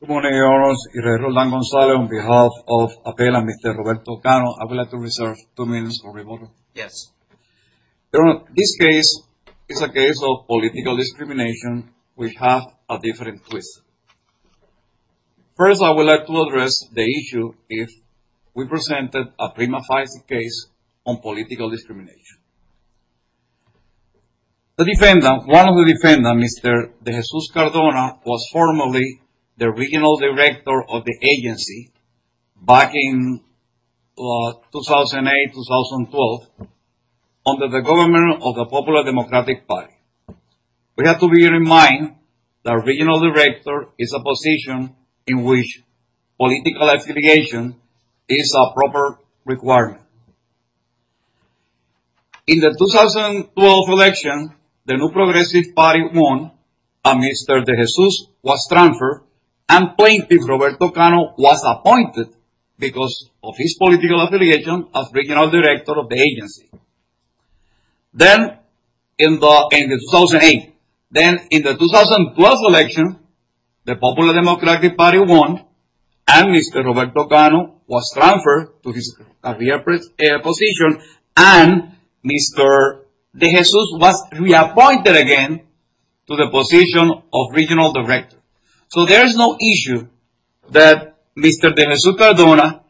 Good morning, Your Honors. I'm Irredeemable Gonzalez on behalf of APELA and Mr. Roberto Cano. I would like to reserve two minutes for rebuttal. Yes. Your Honor, this case is a case of political discrimination which has a different twist. First, I would like to address the issue if we presented a prima facie case on political discrimination. The defendant, one of the defendants, Mr. De Jesus-Cardona, was formerly the regional director of the agency back in 2008-2012 under the government of the Popular Democratic Party. We have to bear in mind the regional director is a position in which political affiliation is a proper requirement. In the 2012 election, the New Progressive Party won and Mr. De Jesus-Cardona was transferred and plaintiff Roberto Cano was appointed because of his political affiliation as regional director of the agency. Then, in 2008, then in the 2012 election, the Popular Democratic Party won and Mr. Roberto Cano was transferred to his career position and Mr. De Jesus was reappointed again to the position of regional director. So, there is no issue that Mr. De Jesus-Cardona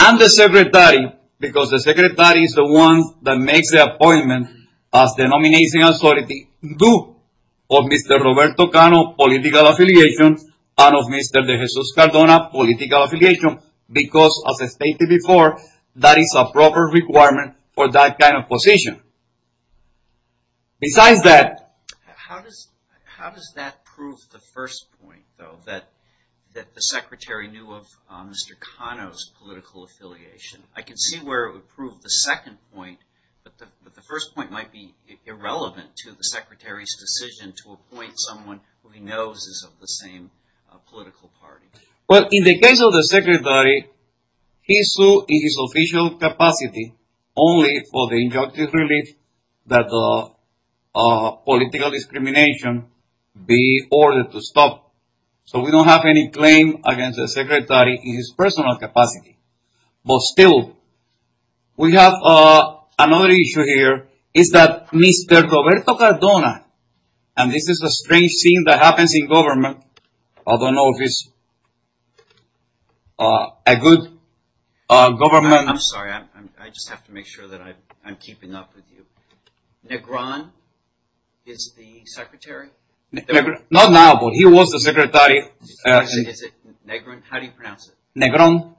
and the secretary, because the secretary is the one that makes the appointment as the nominating authority, of Mr. Roberto Cano's political affiliation and of Mr. De Jesus-Cardona's political affiliation because, as I stated before, that is a proper requirement for that kind of position. Besides that... How does that prove the first point, though, that the secretary knew of Mr. Cano's political affiliation? I can see where it would prove the second point, but the first point might be irrelevant to the secretary's decision to appoint someone who he knows is of the same political party. Well, in the case of the secretary, he sued in his official capacity only for the injunctive relief that political discrimination be ordered to stop. So, we don't have any claim against the secretary in his personal capacity. But still, we have another issue here, is that Mr. Roberto Cardona, and this is a strange thing that happens in government. I don't know if it's a good government... I'm sorry, I just have to make sure that I'm keeping up with you. Negron is the secretary? Not now, but he was the secretary. Is it Negron? How do you pronounce it? Negron.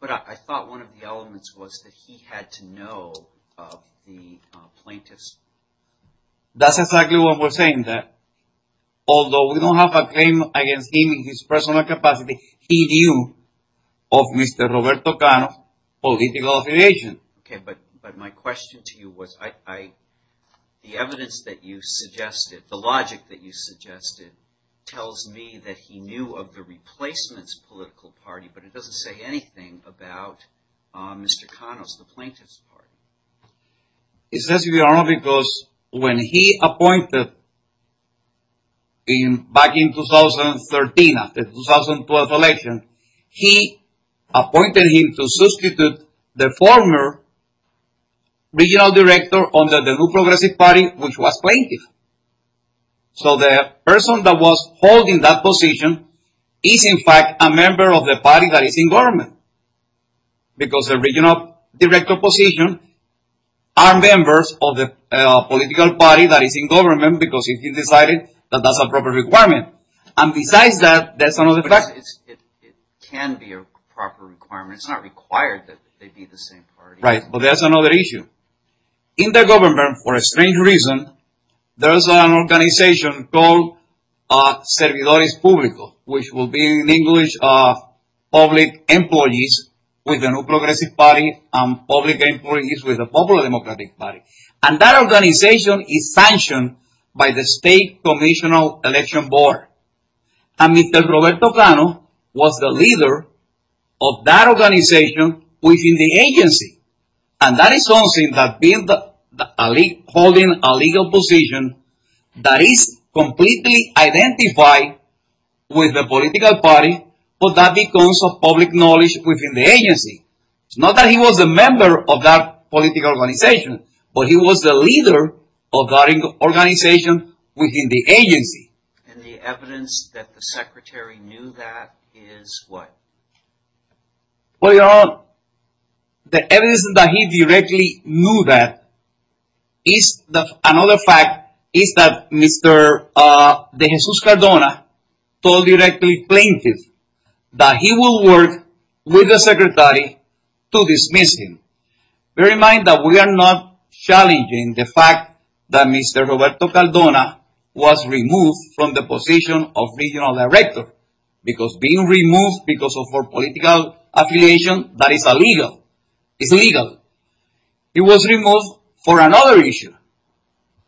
But I thought one of the elements was that he had to know of the plaintiffs. That's exactly what we're saying there. Although we don't have a claim against him in his personal capacity, he knew of Mr. Roberto Cano's political affiliation. Okay, but my question to you was, the evidence that you suggested, the logic that you suggested, tells me that he knew of the replacement's political party, but it doesn't say anything about Mr. Cano's, the plaintiff's party. It says here, because when he appointed, back in 2013, after the 2012 election, he appointed him to substitute the former regional director under the New Progressive Party, which was plaintiff. So the person that was holding that position is in fact a member of the party that is in government. Because the regional director position are members of the political party that is in government because he decided that that's a proper requirement. And besides that, that's another fact. It can be a proper requirement. It's not required that they be the same party. Right, but that's another issue. In the government, for a strange reason, there's an organization called Servidores Públicos, which will be in English, public employees with the New Progressive Party, and public employees with the Popular Democratic Party. And that organization is sanctioned by the state commission of election board. And Mr. Roberto Cano was the leader of that organization within the agency. And that is something that being the, holding a legal position, that is completely identified with the political party, but that becomes of public knowledge within the agency. It's not that he was a member of that political organization, but he was the leader of that organization within the agency. And the evidence that the secretary knew that is what? Well, you know, the evidence that he directly knew that is another fact is that Mr. DeJesus Cardona told directly plaintiff that he will work with the secretary to dismiss him. Bear in mind that we are not challenging the fact that Mr. Roberto Cardona was removed from the position of regional director, because being removed because of our political affiliation, that is illegal. It's illegal. He was removed for another issue.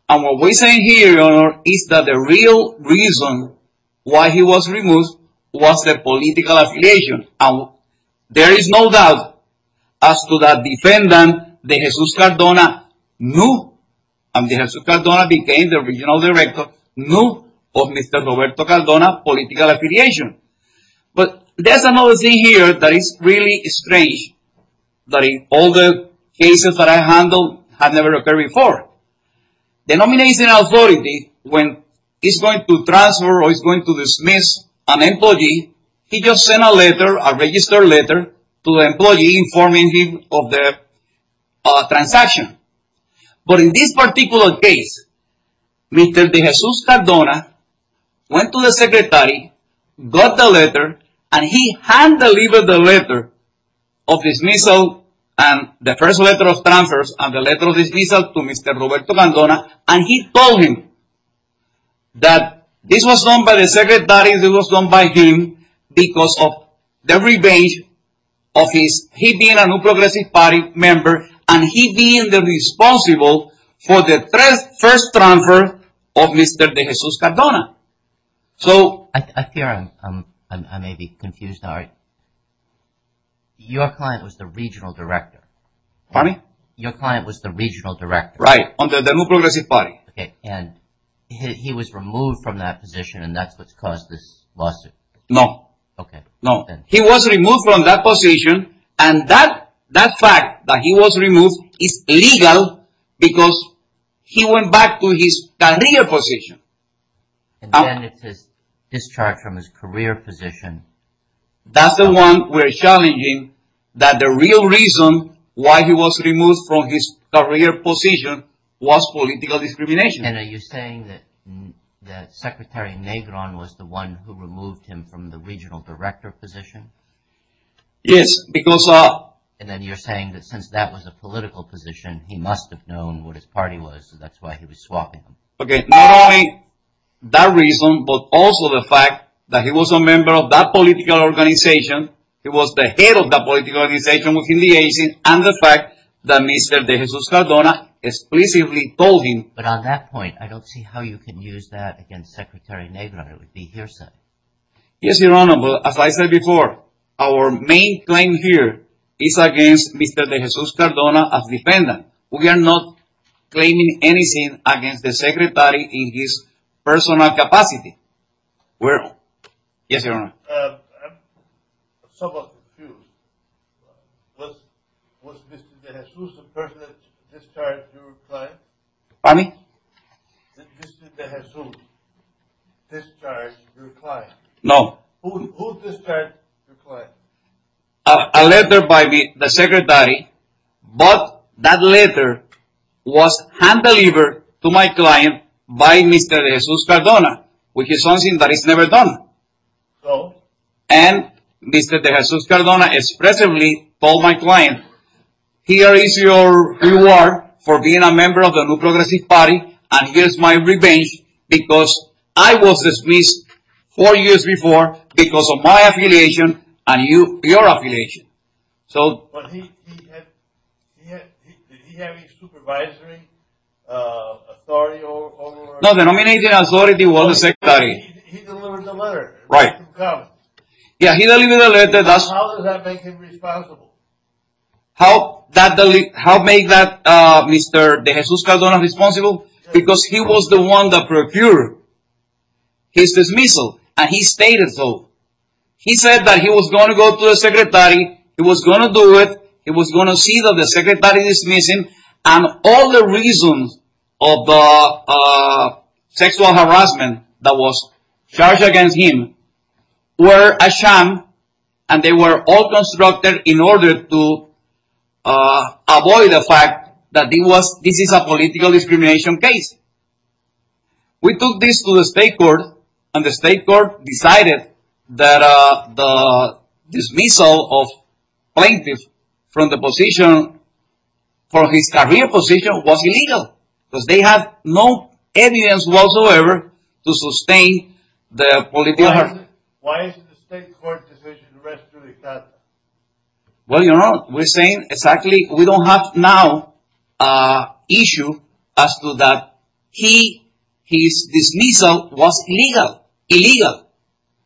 And what we're saying here, your honor, is that the real reason why he was removed was the political affiliation. And there is no doubt as to that defendant, DeJesus Cardona knew, and DeJesus Cardona became the regional director, knew of Mr. Roberto Cardona's political affiliation. But there's another thing here that is really strange, that in all the cases that I handled have never occurred before. The nomination authority, when it's going to transfer or it's going to dismiss an employee, he just sent a letter, a registered letter, to the employee informing him of the transaction. But in this particular case, Mr. DeJesus Cardona went to the secretary, got the letter, and he hand-delivered the letter of dismissal and the first letter of transfers and the letter of dismissal to Mr. Roberto Cardona, and he told him that this was done by the secretary, this was done by him, because of the revenge of his, he being a New Progressive Party member, and he being the responsible for the first transfer of Mr. DeJesus Cardona. So... I fear I may be confused now. Your client was the regional director. Pardon me? Your client was the regional director. Right, under the New Progressive Party. Okay, and he was removed from that position and that's what caused this lawsuit. No. Okay. No, he was removed from that position, and that fact that he was removed is illegal because he went back to his career position. And then it's his discharge from his career position. That's the one we're challenging, that the real reason why he was removed from his career position was political discrimination. And are you saying that Secretary Negron was the one who removed him from the regional director position? Yes, because... And then you're saying that since that was a political position, he must have known what his party was, so that's why he was swapping them. Okay, not only that reason, but also the fact that he was a member of that political organization, he was the head of that political organization within the agency, and the fact that Mr. DeJesus Cardona explicitly told him... But on that point, I don't see how you can use that against Secretary Negron. It would be hearsay. Yes, Your Honor, but as I said before, our main claim here is against Mr. DeJesus Cardona as defendant. We are not claiming anything against the Secretary in his personal capacity. Yes, Your Honor. I'm somewhat confused. Was Mr. DeJesus the person that discharged your client? Pardon me? Did Mr. DeJesus discharge your client? No. Who discharged your client? A letter by the Secretary, but that letter was hand-delivered to my client by Mr. DeJesus Cardona, which is something that is never done. So? And Mr. DeJesus Cardona expressly told my client, here is your reward for being a member of the New Progressive Party, and here is my revenge because I was dismissed four years before because of my affiliation and your affiliation. But did he have any supervisory authority? No, the nominating authority was the Secretary. He delivered the letter. Right. How does that make him responsible? How does that make Mr. DeJesus Cardona responsible? Because he was the one that procured his dismissal, and he stated so. He said that he was going to go to the Secretary, he was going to do it, he was going to see that the Secretary dismissed him, and all the reasons of the sexual harassment that was charged against him were a sham, and they were all constructed in order to avoid the fact that this is a political discrimination case. We took this to the state court, and the state court decided that the dismissal of plaintiffs from the position, from his career position, was illegal, because they had no evidence whatsoever to sustain the political harassment. Why is the state court decision restricted to the defendant? Well, you know, we're saying exactly, we don't have now an issue as to that his dismissal was illegal. Illegal.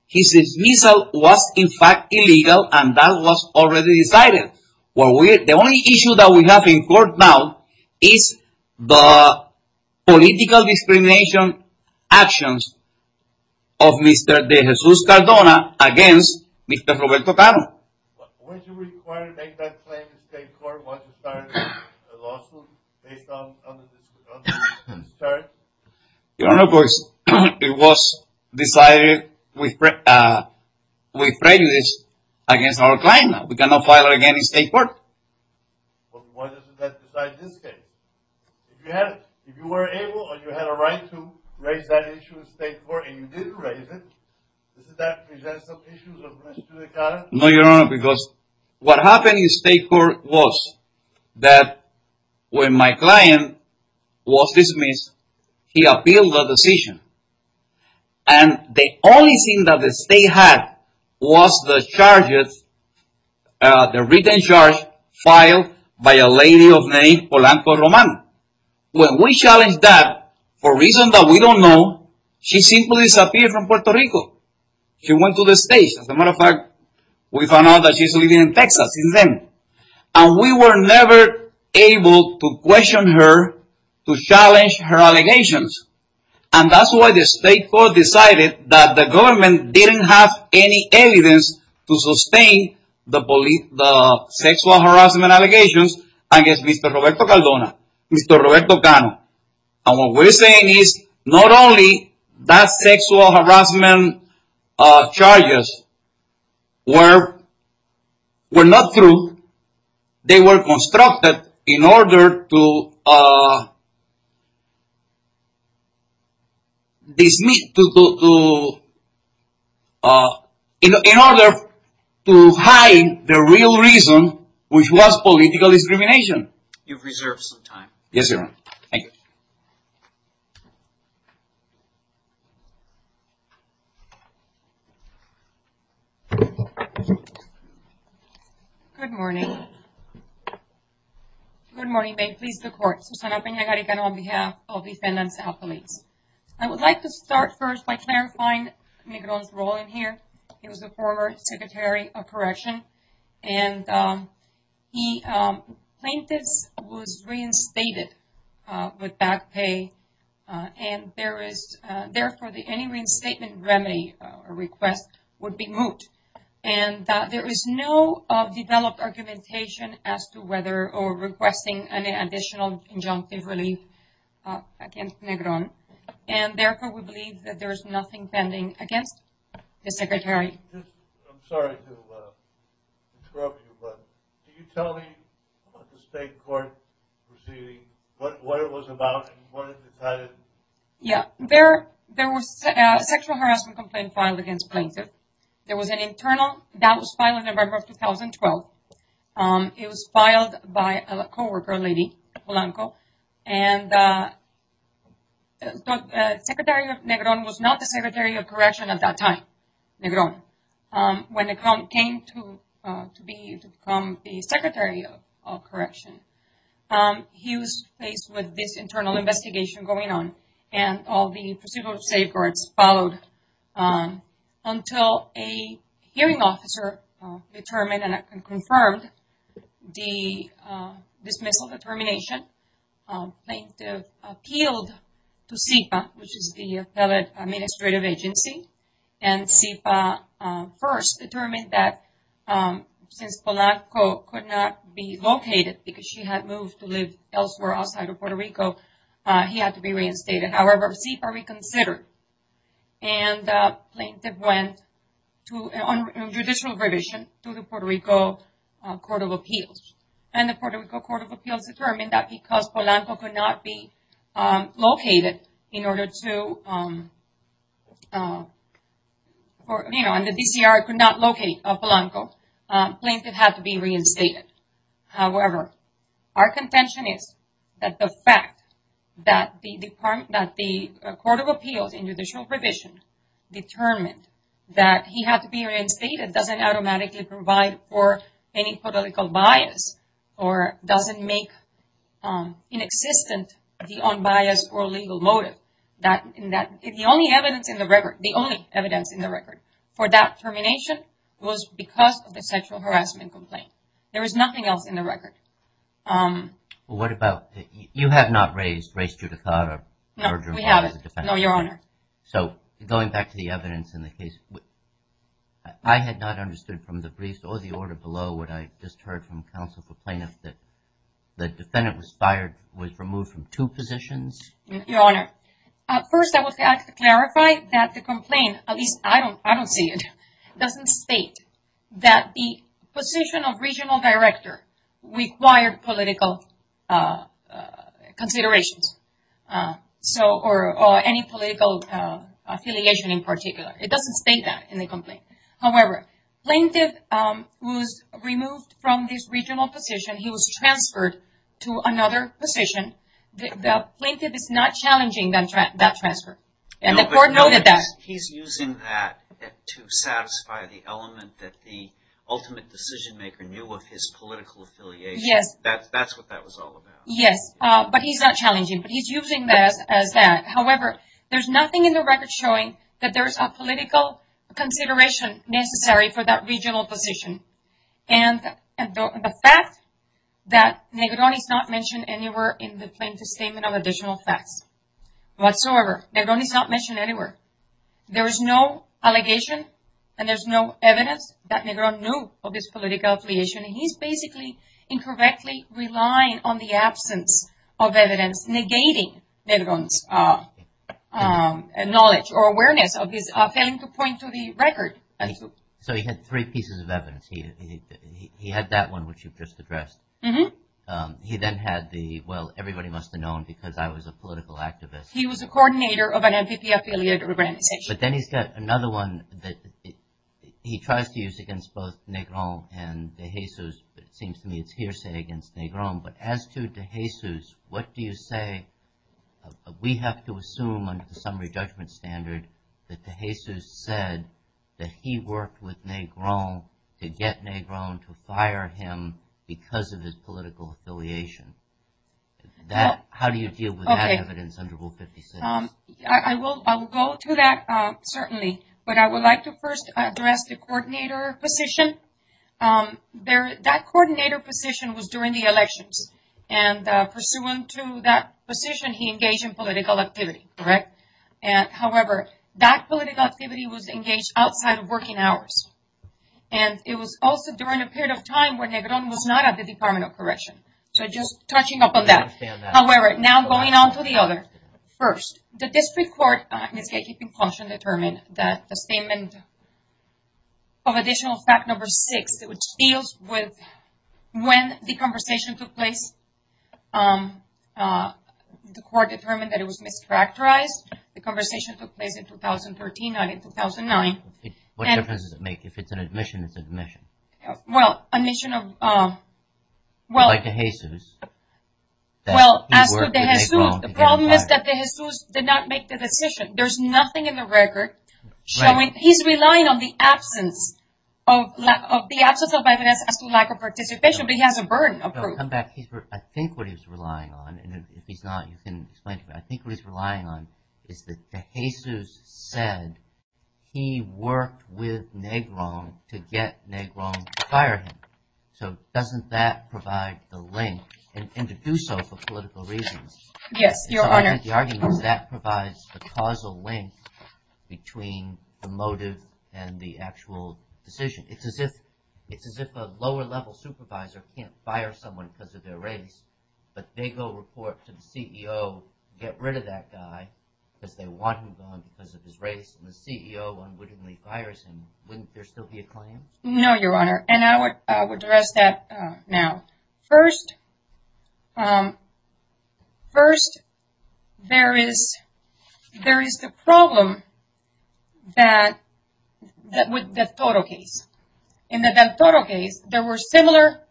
His dismissal was in fact illegal, and that was already decided. The only issue that we have in court now is the political discrimination actions of Mr. De Jesus Cardona against Mr. Roberto Tano. Was it required to make that claim in the state court once you started the lawsuit based on the dismissal charges? You know, of course, it was decided with prejudice against our client. We cannot file it again in state court. But why does it have to be decided in this case? If you were able or you had a right to raise that issue in state court, and you didn't raise it, doesn't that present some issues of Mr. De Jesus Cardona? No, Your Honor, because what happened in state court was that when my client was dismissed, he appealed the decision, and the only thing that the state had was the charges, the written charge filed by a lady of name Polanco Roman. When we challenged that, for reasons that we don't know, she simply disappeared from Puerto Rico. She went to the States. As a matter of fact, we found out that she's living in Texas since then. And we were never able to question her to challenge her allegations. And that's why the state court decided that the government didn't have any evidence to sustain the sexual harassment allegations against Mr. Roberto Cardona, Mr. Roberto Cano. And what we're saying is not only that sexual harassment charges were not true, they were constructed in order to hide the real reason, which was political discrimination. You've reserved some time. Yes, Your Honor. Thank you. Good morning. Good morning. May it please the Court. Susana Peña-Harrigan on behalf of defendants and police. I would like to start first by clarifying Negron's role in here. He was the former Secretary of Correction, and the plaintiff was reinstated with back pay, and therefore any reinstatement remedy request would be moot. And there is no developed argumentation as to whether or requesting any additional injunctive relief against Negron, and therefore we believe that there is nothing pending against the Secretary. I'm sorry to interrupt you, but can you tell me what the state court proceeding, what it was about, and what it decided? Yeah. There was a sexual harassment complaint filed against the plaintiff. That was filed in November of 2012. It was filed by a co-worker, a lady, a Polanco, and the Secretary of Negron was not the Secretary of Correction at that time. When Negron came to become the Secretary of Correction, he was faced with this internal investigation going on, and all the procedural safeguards followed until a hearing officer determined and confirmed the dismissal determination. The plaintiff appealed to SIPA, which is the Federal Administrative Agency, and SIPA first determined that since Polanco could not be located because she had moved to live elsewhere outside of Puerto Rico, he had to be reinstated. However, SIPA reconsidered, and the plaintiff went on judicial revision to the Puerto Rico Court of Appeals. And the Puerto Rico Court of Appeals determined that because Polanco could not be located in order to, you know, and the DCR could not locate Polanco, the plaintiff had to be reinstated. However, our contention is that the fact that the Court of Appeals in judicial revision determined that he had to be reinstated doesn't automatically provide for any political bias or doesn't make inexistent the unbiased or legal motive. The only evidence in the record for that termination was because of the sexual harassment complaint. There is nothing else in the record. Well, what about, you have not raised race judicata. No, we haven't. No, Your Honor. So, going back to the evidence in the case, I had not understood from the briefs or the order below what I just heard from counsel for plaintiff that the defendant was fired, was removed from two positions? Your Honor, first I would like to clarify that the complaint, at least I don't see it, doesn't state that the position of regional director required political considerations. So, or any political affiliation in particular. It doesn't state that in the complaint. However, plaintiff was removed from his regional position. He was transferred to another position. The plaintiff is not challenging that transfer. And the Court noted that. He's using that to satisfy the element that the ultimate decision maker knew of his political affiliation. Yes. That's what that was all about. Yes, but he's not challenging. But he's using that as that. However, there's nothing in the record showing that there's a political consideration necessary for that regional position. And the fact that Negron is not mentioned anywhere in the plaintiff's statement of additional facts. Whatsoever. Negron is not mentioned anywhere. There's no allegation and there's no evidence that Negron knew of his political affiliation. And he's basically incorrectly relying on the absence of evidence negating Negron's knowledge or awareness of his failing to point to the record. So, he had three pieces of evidence. He had that one, which you've just addressed. He then had the, well, everybody must have known because I was a political activist. He was a coordinator of an MPP affiliate organization. But then he's got another one that he tries to use against both Negron and de Jesus. It seems to me it's hearsay against Negron. But as to de Jesus, what do you say we have to assume under the summary judgment standard that de Jesus said that he worked with Negron to get Negron to fire him because of his political affiliation? How do you deal with that evidence under Rule 56? I will go to that, certainly. But I would like to first address the coordinator position. That coordinator position was during the elections. And pursuant to that position, he engaged in political activity, correct? However, that political activity was engaged outside of working hours. And it was also during a period of time when Negron was not at the Department of Correction. So, just touching upon that. I understand that. However, now going on to the other. First, the district court in its gatekeeping function determined that the statement of additional fact number six, which deals with when the conversation took place. The court determined that it was mischaracterized. The conversation took place in 2013, not in 2009. What difference does it make? If it's an admission, it's admission. Well, admission of... Well, as to De Jesus, the problem is that De Jesus did not make the decision. There's nothing in the record showing... He's relying on the absence of... The absence of evidence as to lack of participation, but he has a burden of proof. I think what he's relying on, and if he's not, you can explain to me. I think what he's relying on is that De Jesus said he worked with Negron to get Negron to fire him. So, doesn't that provide the link, and to do so for political reasons? Yes, Your Honor. So, I think the argument is that provides the causal link between the motive and the actual decision. It's as if a lower-level supervisor can't fire someone because of their race, but they go report to the CEO, get rid of that guy because they want him gone because of his race, and the CEO unwittingly fires him. Wouldn't there still be a claim? No, Your Honor, and I would address that now. First, there is the problem with the del Toro case. In the del Toro case, there were similar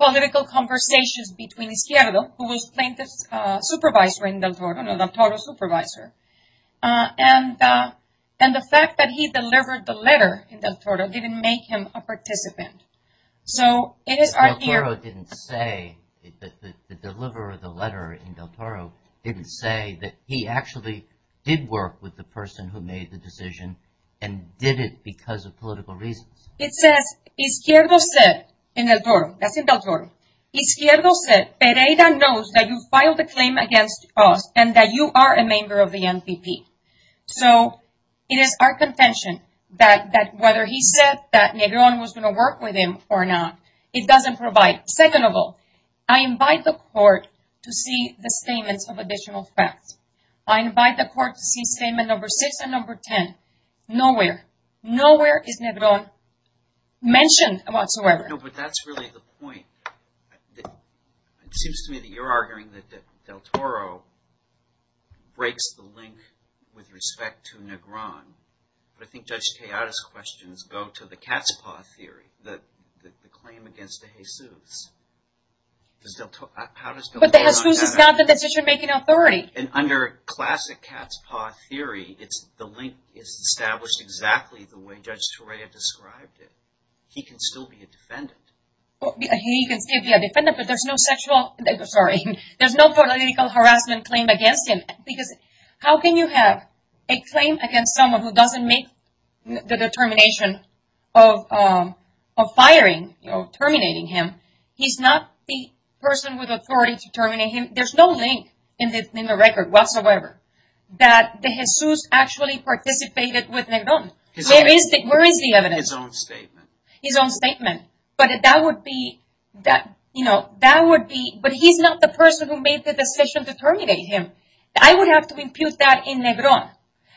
political conversations between Izquierdo, who was plaintiff's supervisor in del Toro, no, del Toro's supervisor, and the fact that he delivered the letter in del Toro didn't make him a participant. So, it is our... Del Toro didn't say, the deliverer of the letter in del Toro didn't say that he actually did work with the person who made the decision and did it because of political reasons. It says, Izquierdo said, in del Toro, that's in del Toro, Izquierdo said, Pereira knows that you filed a claim against us and that you are a member of the NPP. So, it is our contention that whether he said that Negron was going to work with him or not, it doesn't provide. Second of all, I invite the court to see the statements of additional facts. I invite the court to see statement number six and number ten. Nowhere, nowhere is Negron mentioned whatsoever. No, but that's really the point. It seems to me that you're arguing that del Toro breaks the link with respect to Negron. I think Judge Tejada's questions go to the cat's paw theory, the claim against de Jesus. But de Jesus is not the decision-making authority. And under classic cat's paw theory, the link is established exactly the way Judge Torrea described it. He can still be a defendant. He can still be a defendant, but there's no sexual, sorry, there's no political harassment claim against him. Because how can you have a claim against someone who doesn't make the determination of firing, of terminating him? He's not the person with authority to terminate him. There's no link in the record whatsoever that de Jesus actually participated with Negron. Where is the evidence? His own statement. His own statement. But that would be, you know, that would be, but he's not the person who made the decision to terminate him. I would have to impute that in Negron.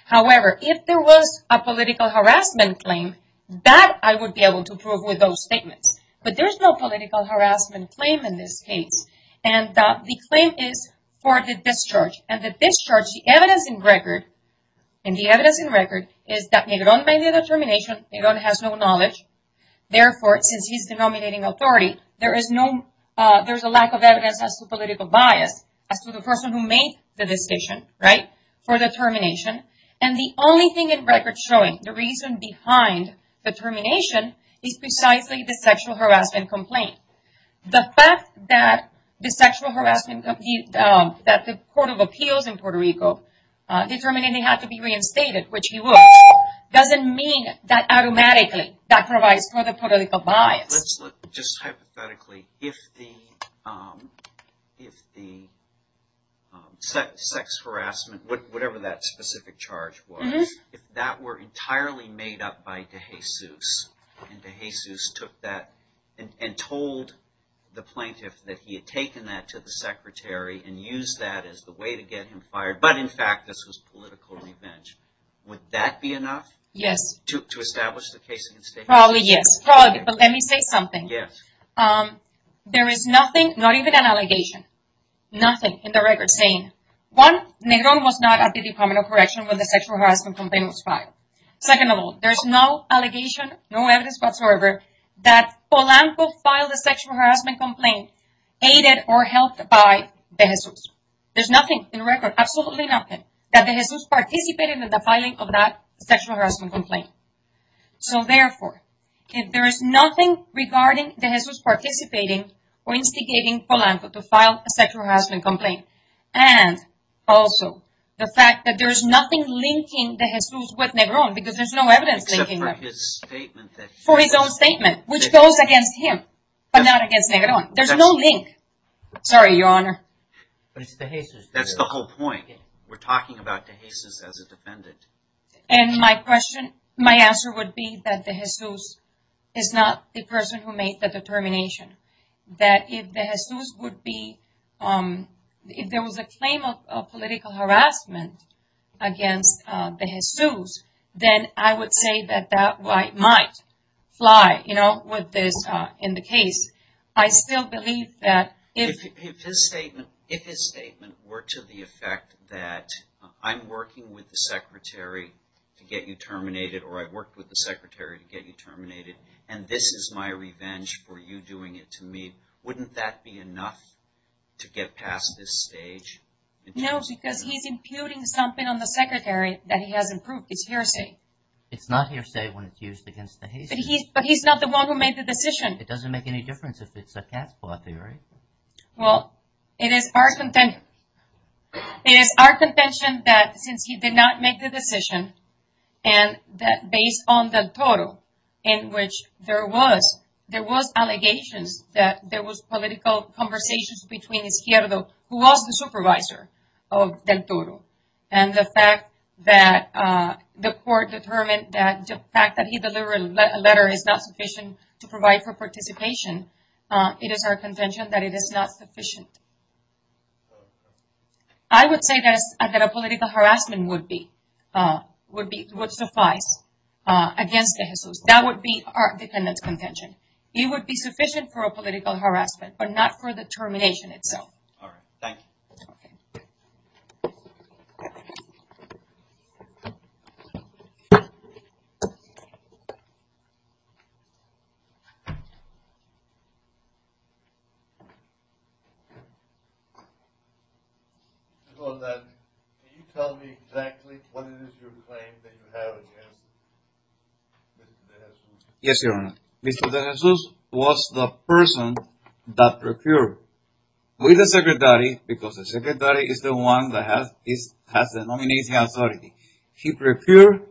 However, if there was a political harassment claim, that I would be able to prove with those statements. But there is no political harassment claim in this case. And the claim is for the discharge. And the discharge, the evidence in record, and the evidence in record is that Negron made the determination. Negron has no knowledge. Therefore, since he's the nominating authority, there is no, there's a lack of evidence as to political bias, as to the person who made the decision, right, for the termination. And the only thing in record showing the reason behind the termination is precisely the sexual harassment complaint. The fact that the sexual harassment, that the Court of Appeals in Puerto Rico determined he had to be reinstated, which he was, doesn't mean that automatically that provides for the political bias. Let's look, just hypothetically, if the, if the sex harassment, whatever that specific charge was, if that were entirely made up by DeJesus, and DeJesus took that and told the plaintiff that he had taken that to the secretary and used that as the way to get him fired, but in fact this was political revenge, would that be enough? Yes. To establish the case against him? Probably yes, probably, but let me say something. Yes. There is nothing, not even an allegation, nothing in the record saying, one, Negron was not at the Department of Correction when the sexual harassment complaint was filed. Second of all, there's no allegation, no evidence whatsoever, that Polanco filed a sexual harassment complaint aided or helped by DeJesus. There's nothing in record, absolutely nothing, that DeJesus participated in the filing of that sexual harassment complaint. So therefore, if there is nothing regarding DeJesus participating or instigating Polanco to file a sexual harassment complaint, and also the fact that there is nothing linking DeJesus with Negron, because there's no evidence linking them. Except for his statement that he. For his own statement, which goes against him, but not against Negron. There's no link. Sorry, Your Honor. But it's DeJesus. That's the whole point. We're talking about DeJesus as a defendant. And my question, my answer would be that DeJesus is not the person who made the determination. That if DeJesus would be, if there was a claim of political harassment against DeJesus, then I would say that that might fly, you know, with this, in the case. I still believe that if. If his statement were to the effect that I'm working with the secretary to get you terminated, or I worked with the secretary to get you terminated, and this is my revenge for you doing it to me, wouldn't that be enough to get past this stage? No, because he's imputing something on the secretary that he hasn't proved. It's hearsay. It's not hearsay when it's used against DeJesus. But he's not the one who made the decision. It doesn't make any difference if it's a cat's paw theory. Well, it is our contention that since he did not make the decision, and that based on Del Toro, in which there was, there was allegations that there was political conversations between Izquierdo, who was the supervisor of Del Toro, and the fact that the court determined that the fact that he delivered a letter is not sufficient to provide for participation, it is our contention that it is not sufficient. I would say that a political harassment would be, would suffice against DeJesus. That would be our defendant's contention. It would be sufficient for a political harassment, but not for the termination itself. All right. Thank you. Thank you. Can you tell me exactly what it is your claim that you have against Mr. DeJesus? Yes, Your Honor. Mr. DeJesus was the person that procured with the secretary, because the secretary is the one that has the nomination authority. He procured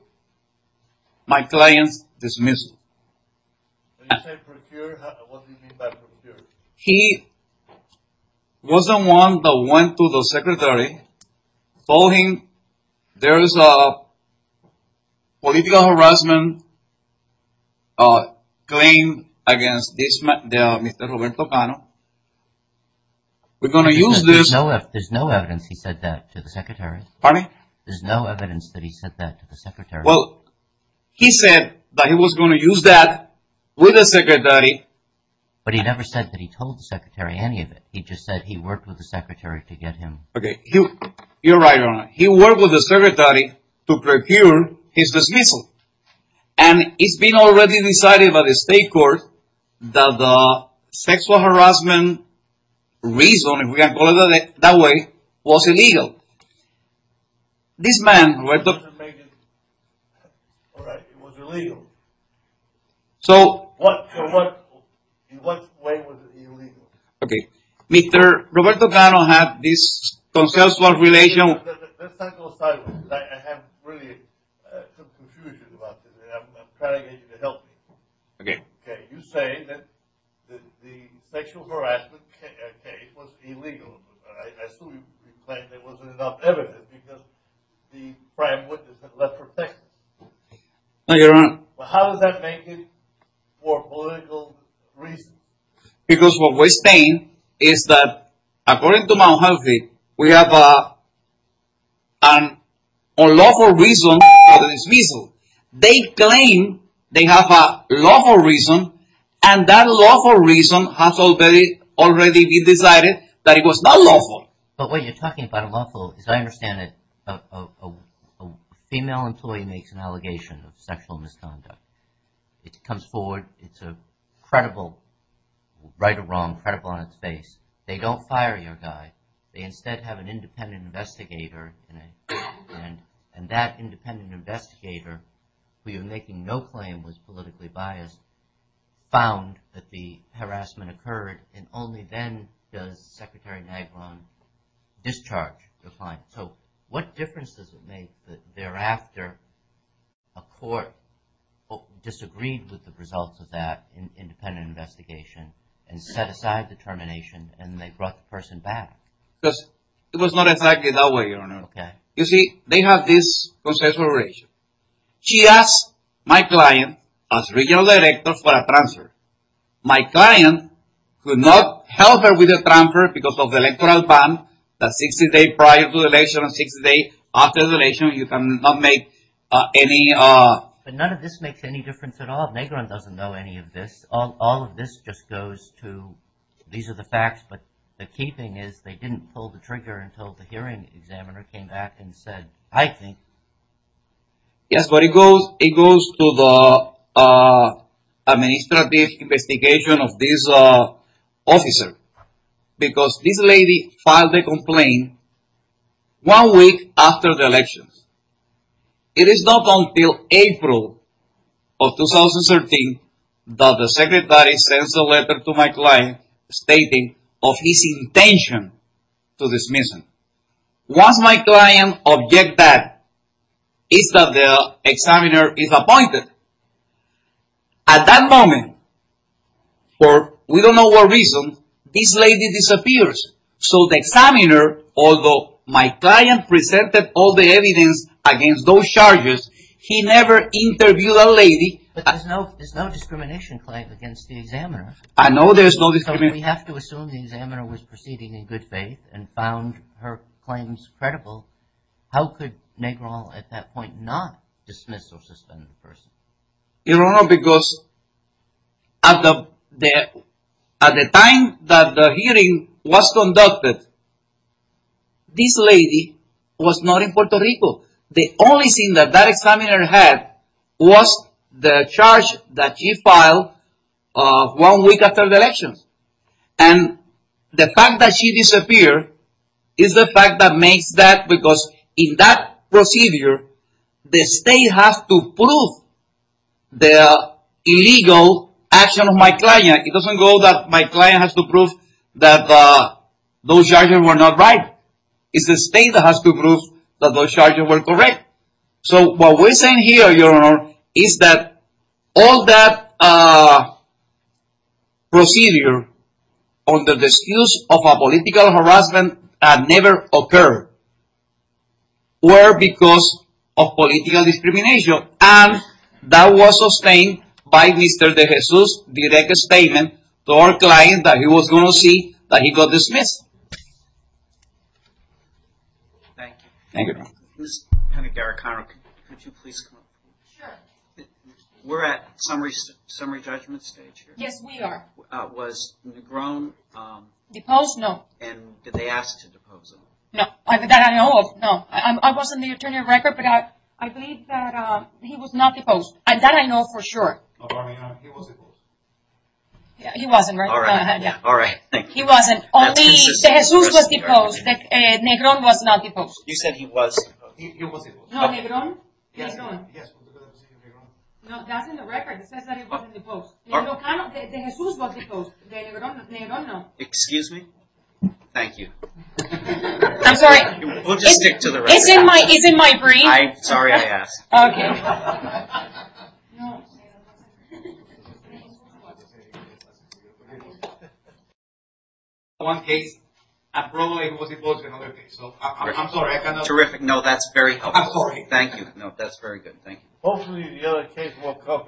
my client's dismissal. When you say procured, what do you mean by procured? He was the one that went to the secretary, told him there is a political harassment claim against Mr. Roberto Cano. We're going to use this. There's no evidence he said that to the secretary. Pardon me? There's no evidence that he said that to the secretary. Well, he said that he was going to use that with the secretary. But he never said that he told the secretary any of it. He just said he worked with the secretary to get him. Okay. You're right, Your Honor. He worked with the secretary to procure his dismissal. And it's been already decided by the state court that the sexual harassment reason, if we can call it that way, was illegal. This man, Roberto... It was illegal. So... In what way was it illegal? Okay. Mr. Roberto Cano had this consensual relation... Let's not go sideways. I have really some confusion about this. I'm trying to get you to help me. Okay. Okay. You're saying that the sexual harassment case was illegal. I assume you claim there wasn't enough evidence because the prime witness had left protected. No, Your Honor. How does that make it for political reasons? Because what we're saying is that according to Mount Healthy, we have an unlawful reason for the dismissal. They claim they have a lawful reason and that lawful reason has already been decided that it was not lawful. But what you're talking about unlawful, as I understand it, a female employee makes an allegation of sexual misconduct. It comes forward. It's a credible right or wrong, credible on its face. They don't fire your guy. They instead have an independent investigator and that independent investigator, who you're making no claim was politically biased, found that the harassment occurred and only then does Secretary Nygron discharge the fine. So what difference does it make that thereafter a court disagreed with the results of that independent investigation and set aside the termination and they brought the person back? Because it was not exactly that way, Your Honor. You see, they have this concessional relation. She asked my client as regional director for a transfer. My client could not help her with the transfer because of the electoral ban. That's 60 days prior to the election and 60 days after the election. You cannot make any... But none of this makes any difference at all. Nygron doesn't know any of this. All of this just goes to, these are the facts, but the key thing is they didn't pull the trigger until the hearing examiner came back and said, I think... Yes, but it goes to the administrative investigation of this officer because this lady filed a complaint one week after the elections. It is not until April of 2013 that the secretary sends a letter to my client stating of his intention to dismiss him. Once my client object that, it's that the examiner is appointed. At that moment, for we don't know what reason, this lady disappears. So the examiner, although my client presented all the evidence against those charges, he never interviewed that lady. But there's no discrimination claim against the examiner. I know there's no discrimination. So we have to assume the examiner was proceeding in good faith and found her claims credible. How could Nygron at that point not dismiss or suspend the person? You don't know because at the time that the hearing was conducted, this lady was not in Puerto Rico. The only thing that that examiner had was the charge that she filed one week after the elections. And the fact that she disappeared is the fact that makes that because in that procedure, the state has to prove the illegal action of my client. It doesn't go that my client has to prove that those charges were not right. It's the state that has to prove that those charges were correct. So what we're saying here, Your Honor, is that all that procedure on the excuse of a political harassment had never occurred. Were because of political discrimination. And that was sustained by Mr. De Jesus' direct statement to our client that he was going to see that he got dismissed. Thank you. Ms. Panagiaricano, could you please come up? Sure. We're at summary judgment stage here. Yes, we are. Was Nygron... Deposed? No. And did they ask to depose him? No, that I know of, no. I was in the attorney record, but I believe that he was not deposed. And that I know for sure. Well, Your Honor, he was deposed. He wasn't, right? All right. He wasn't. Only De Jesus was deposed. Nygron was not deposed. You said he was. He was deposed. No, Nygron? Yes, Nygron. No, that's in the record. It says that he was deposed. De Jesus was deposed. Nygron, no. Excuse me? Thank you. I'm sorry. We'll just stick to the record. It's in my brief. Sorry I asked. Okay. No. One case, and probably he was deposed in another case. So, I'm sorry. Terrific. No, that's very helpful. I'm sorry. Thank you. No, that's very good. Thank you. Hopefully the other case won't come. Why? Right.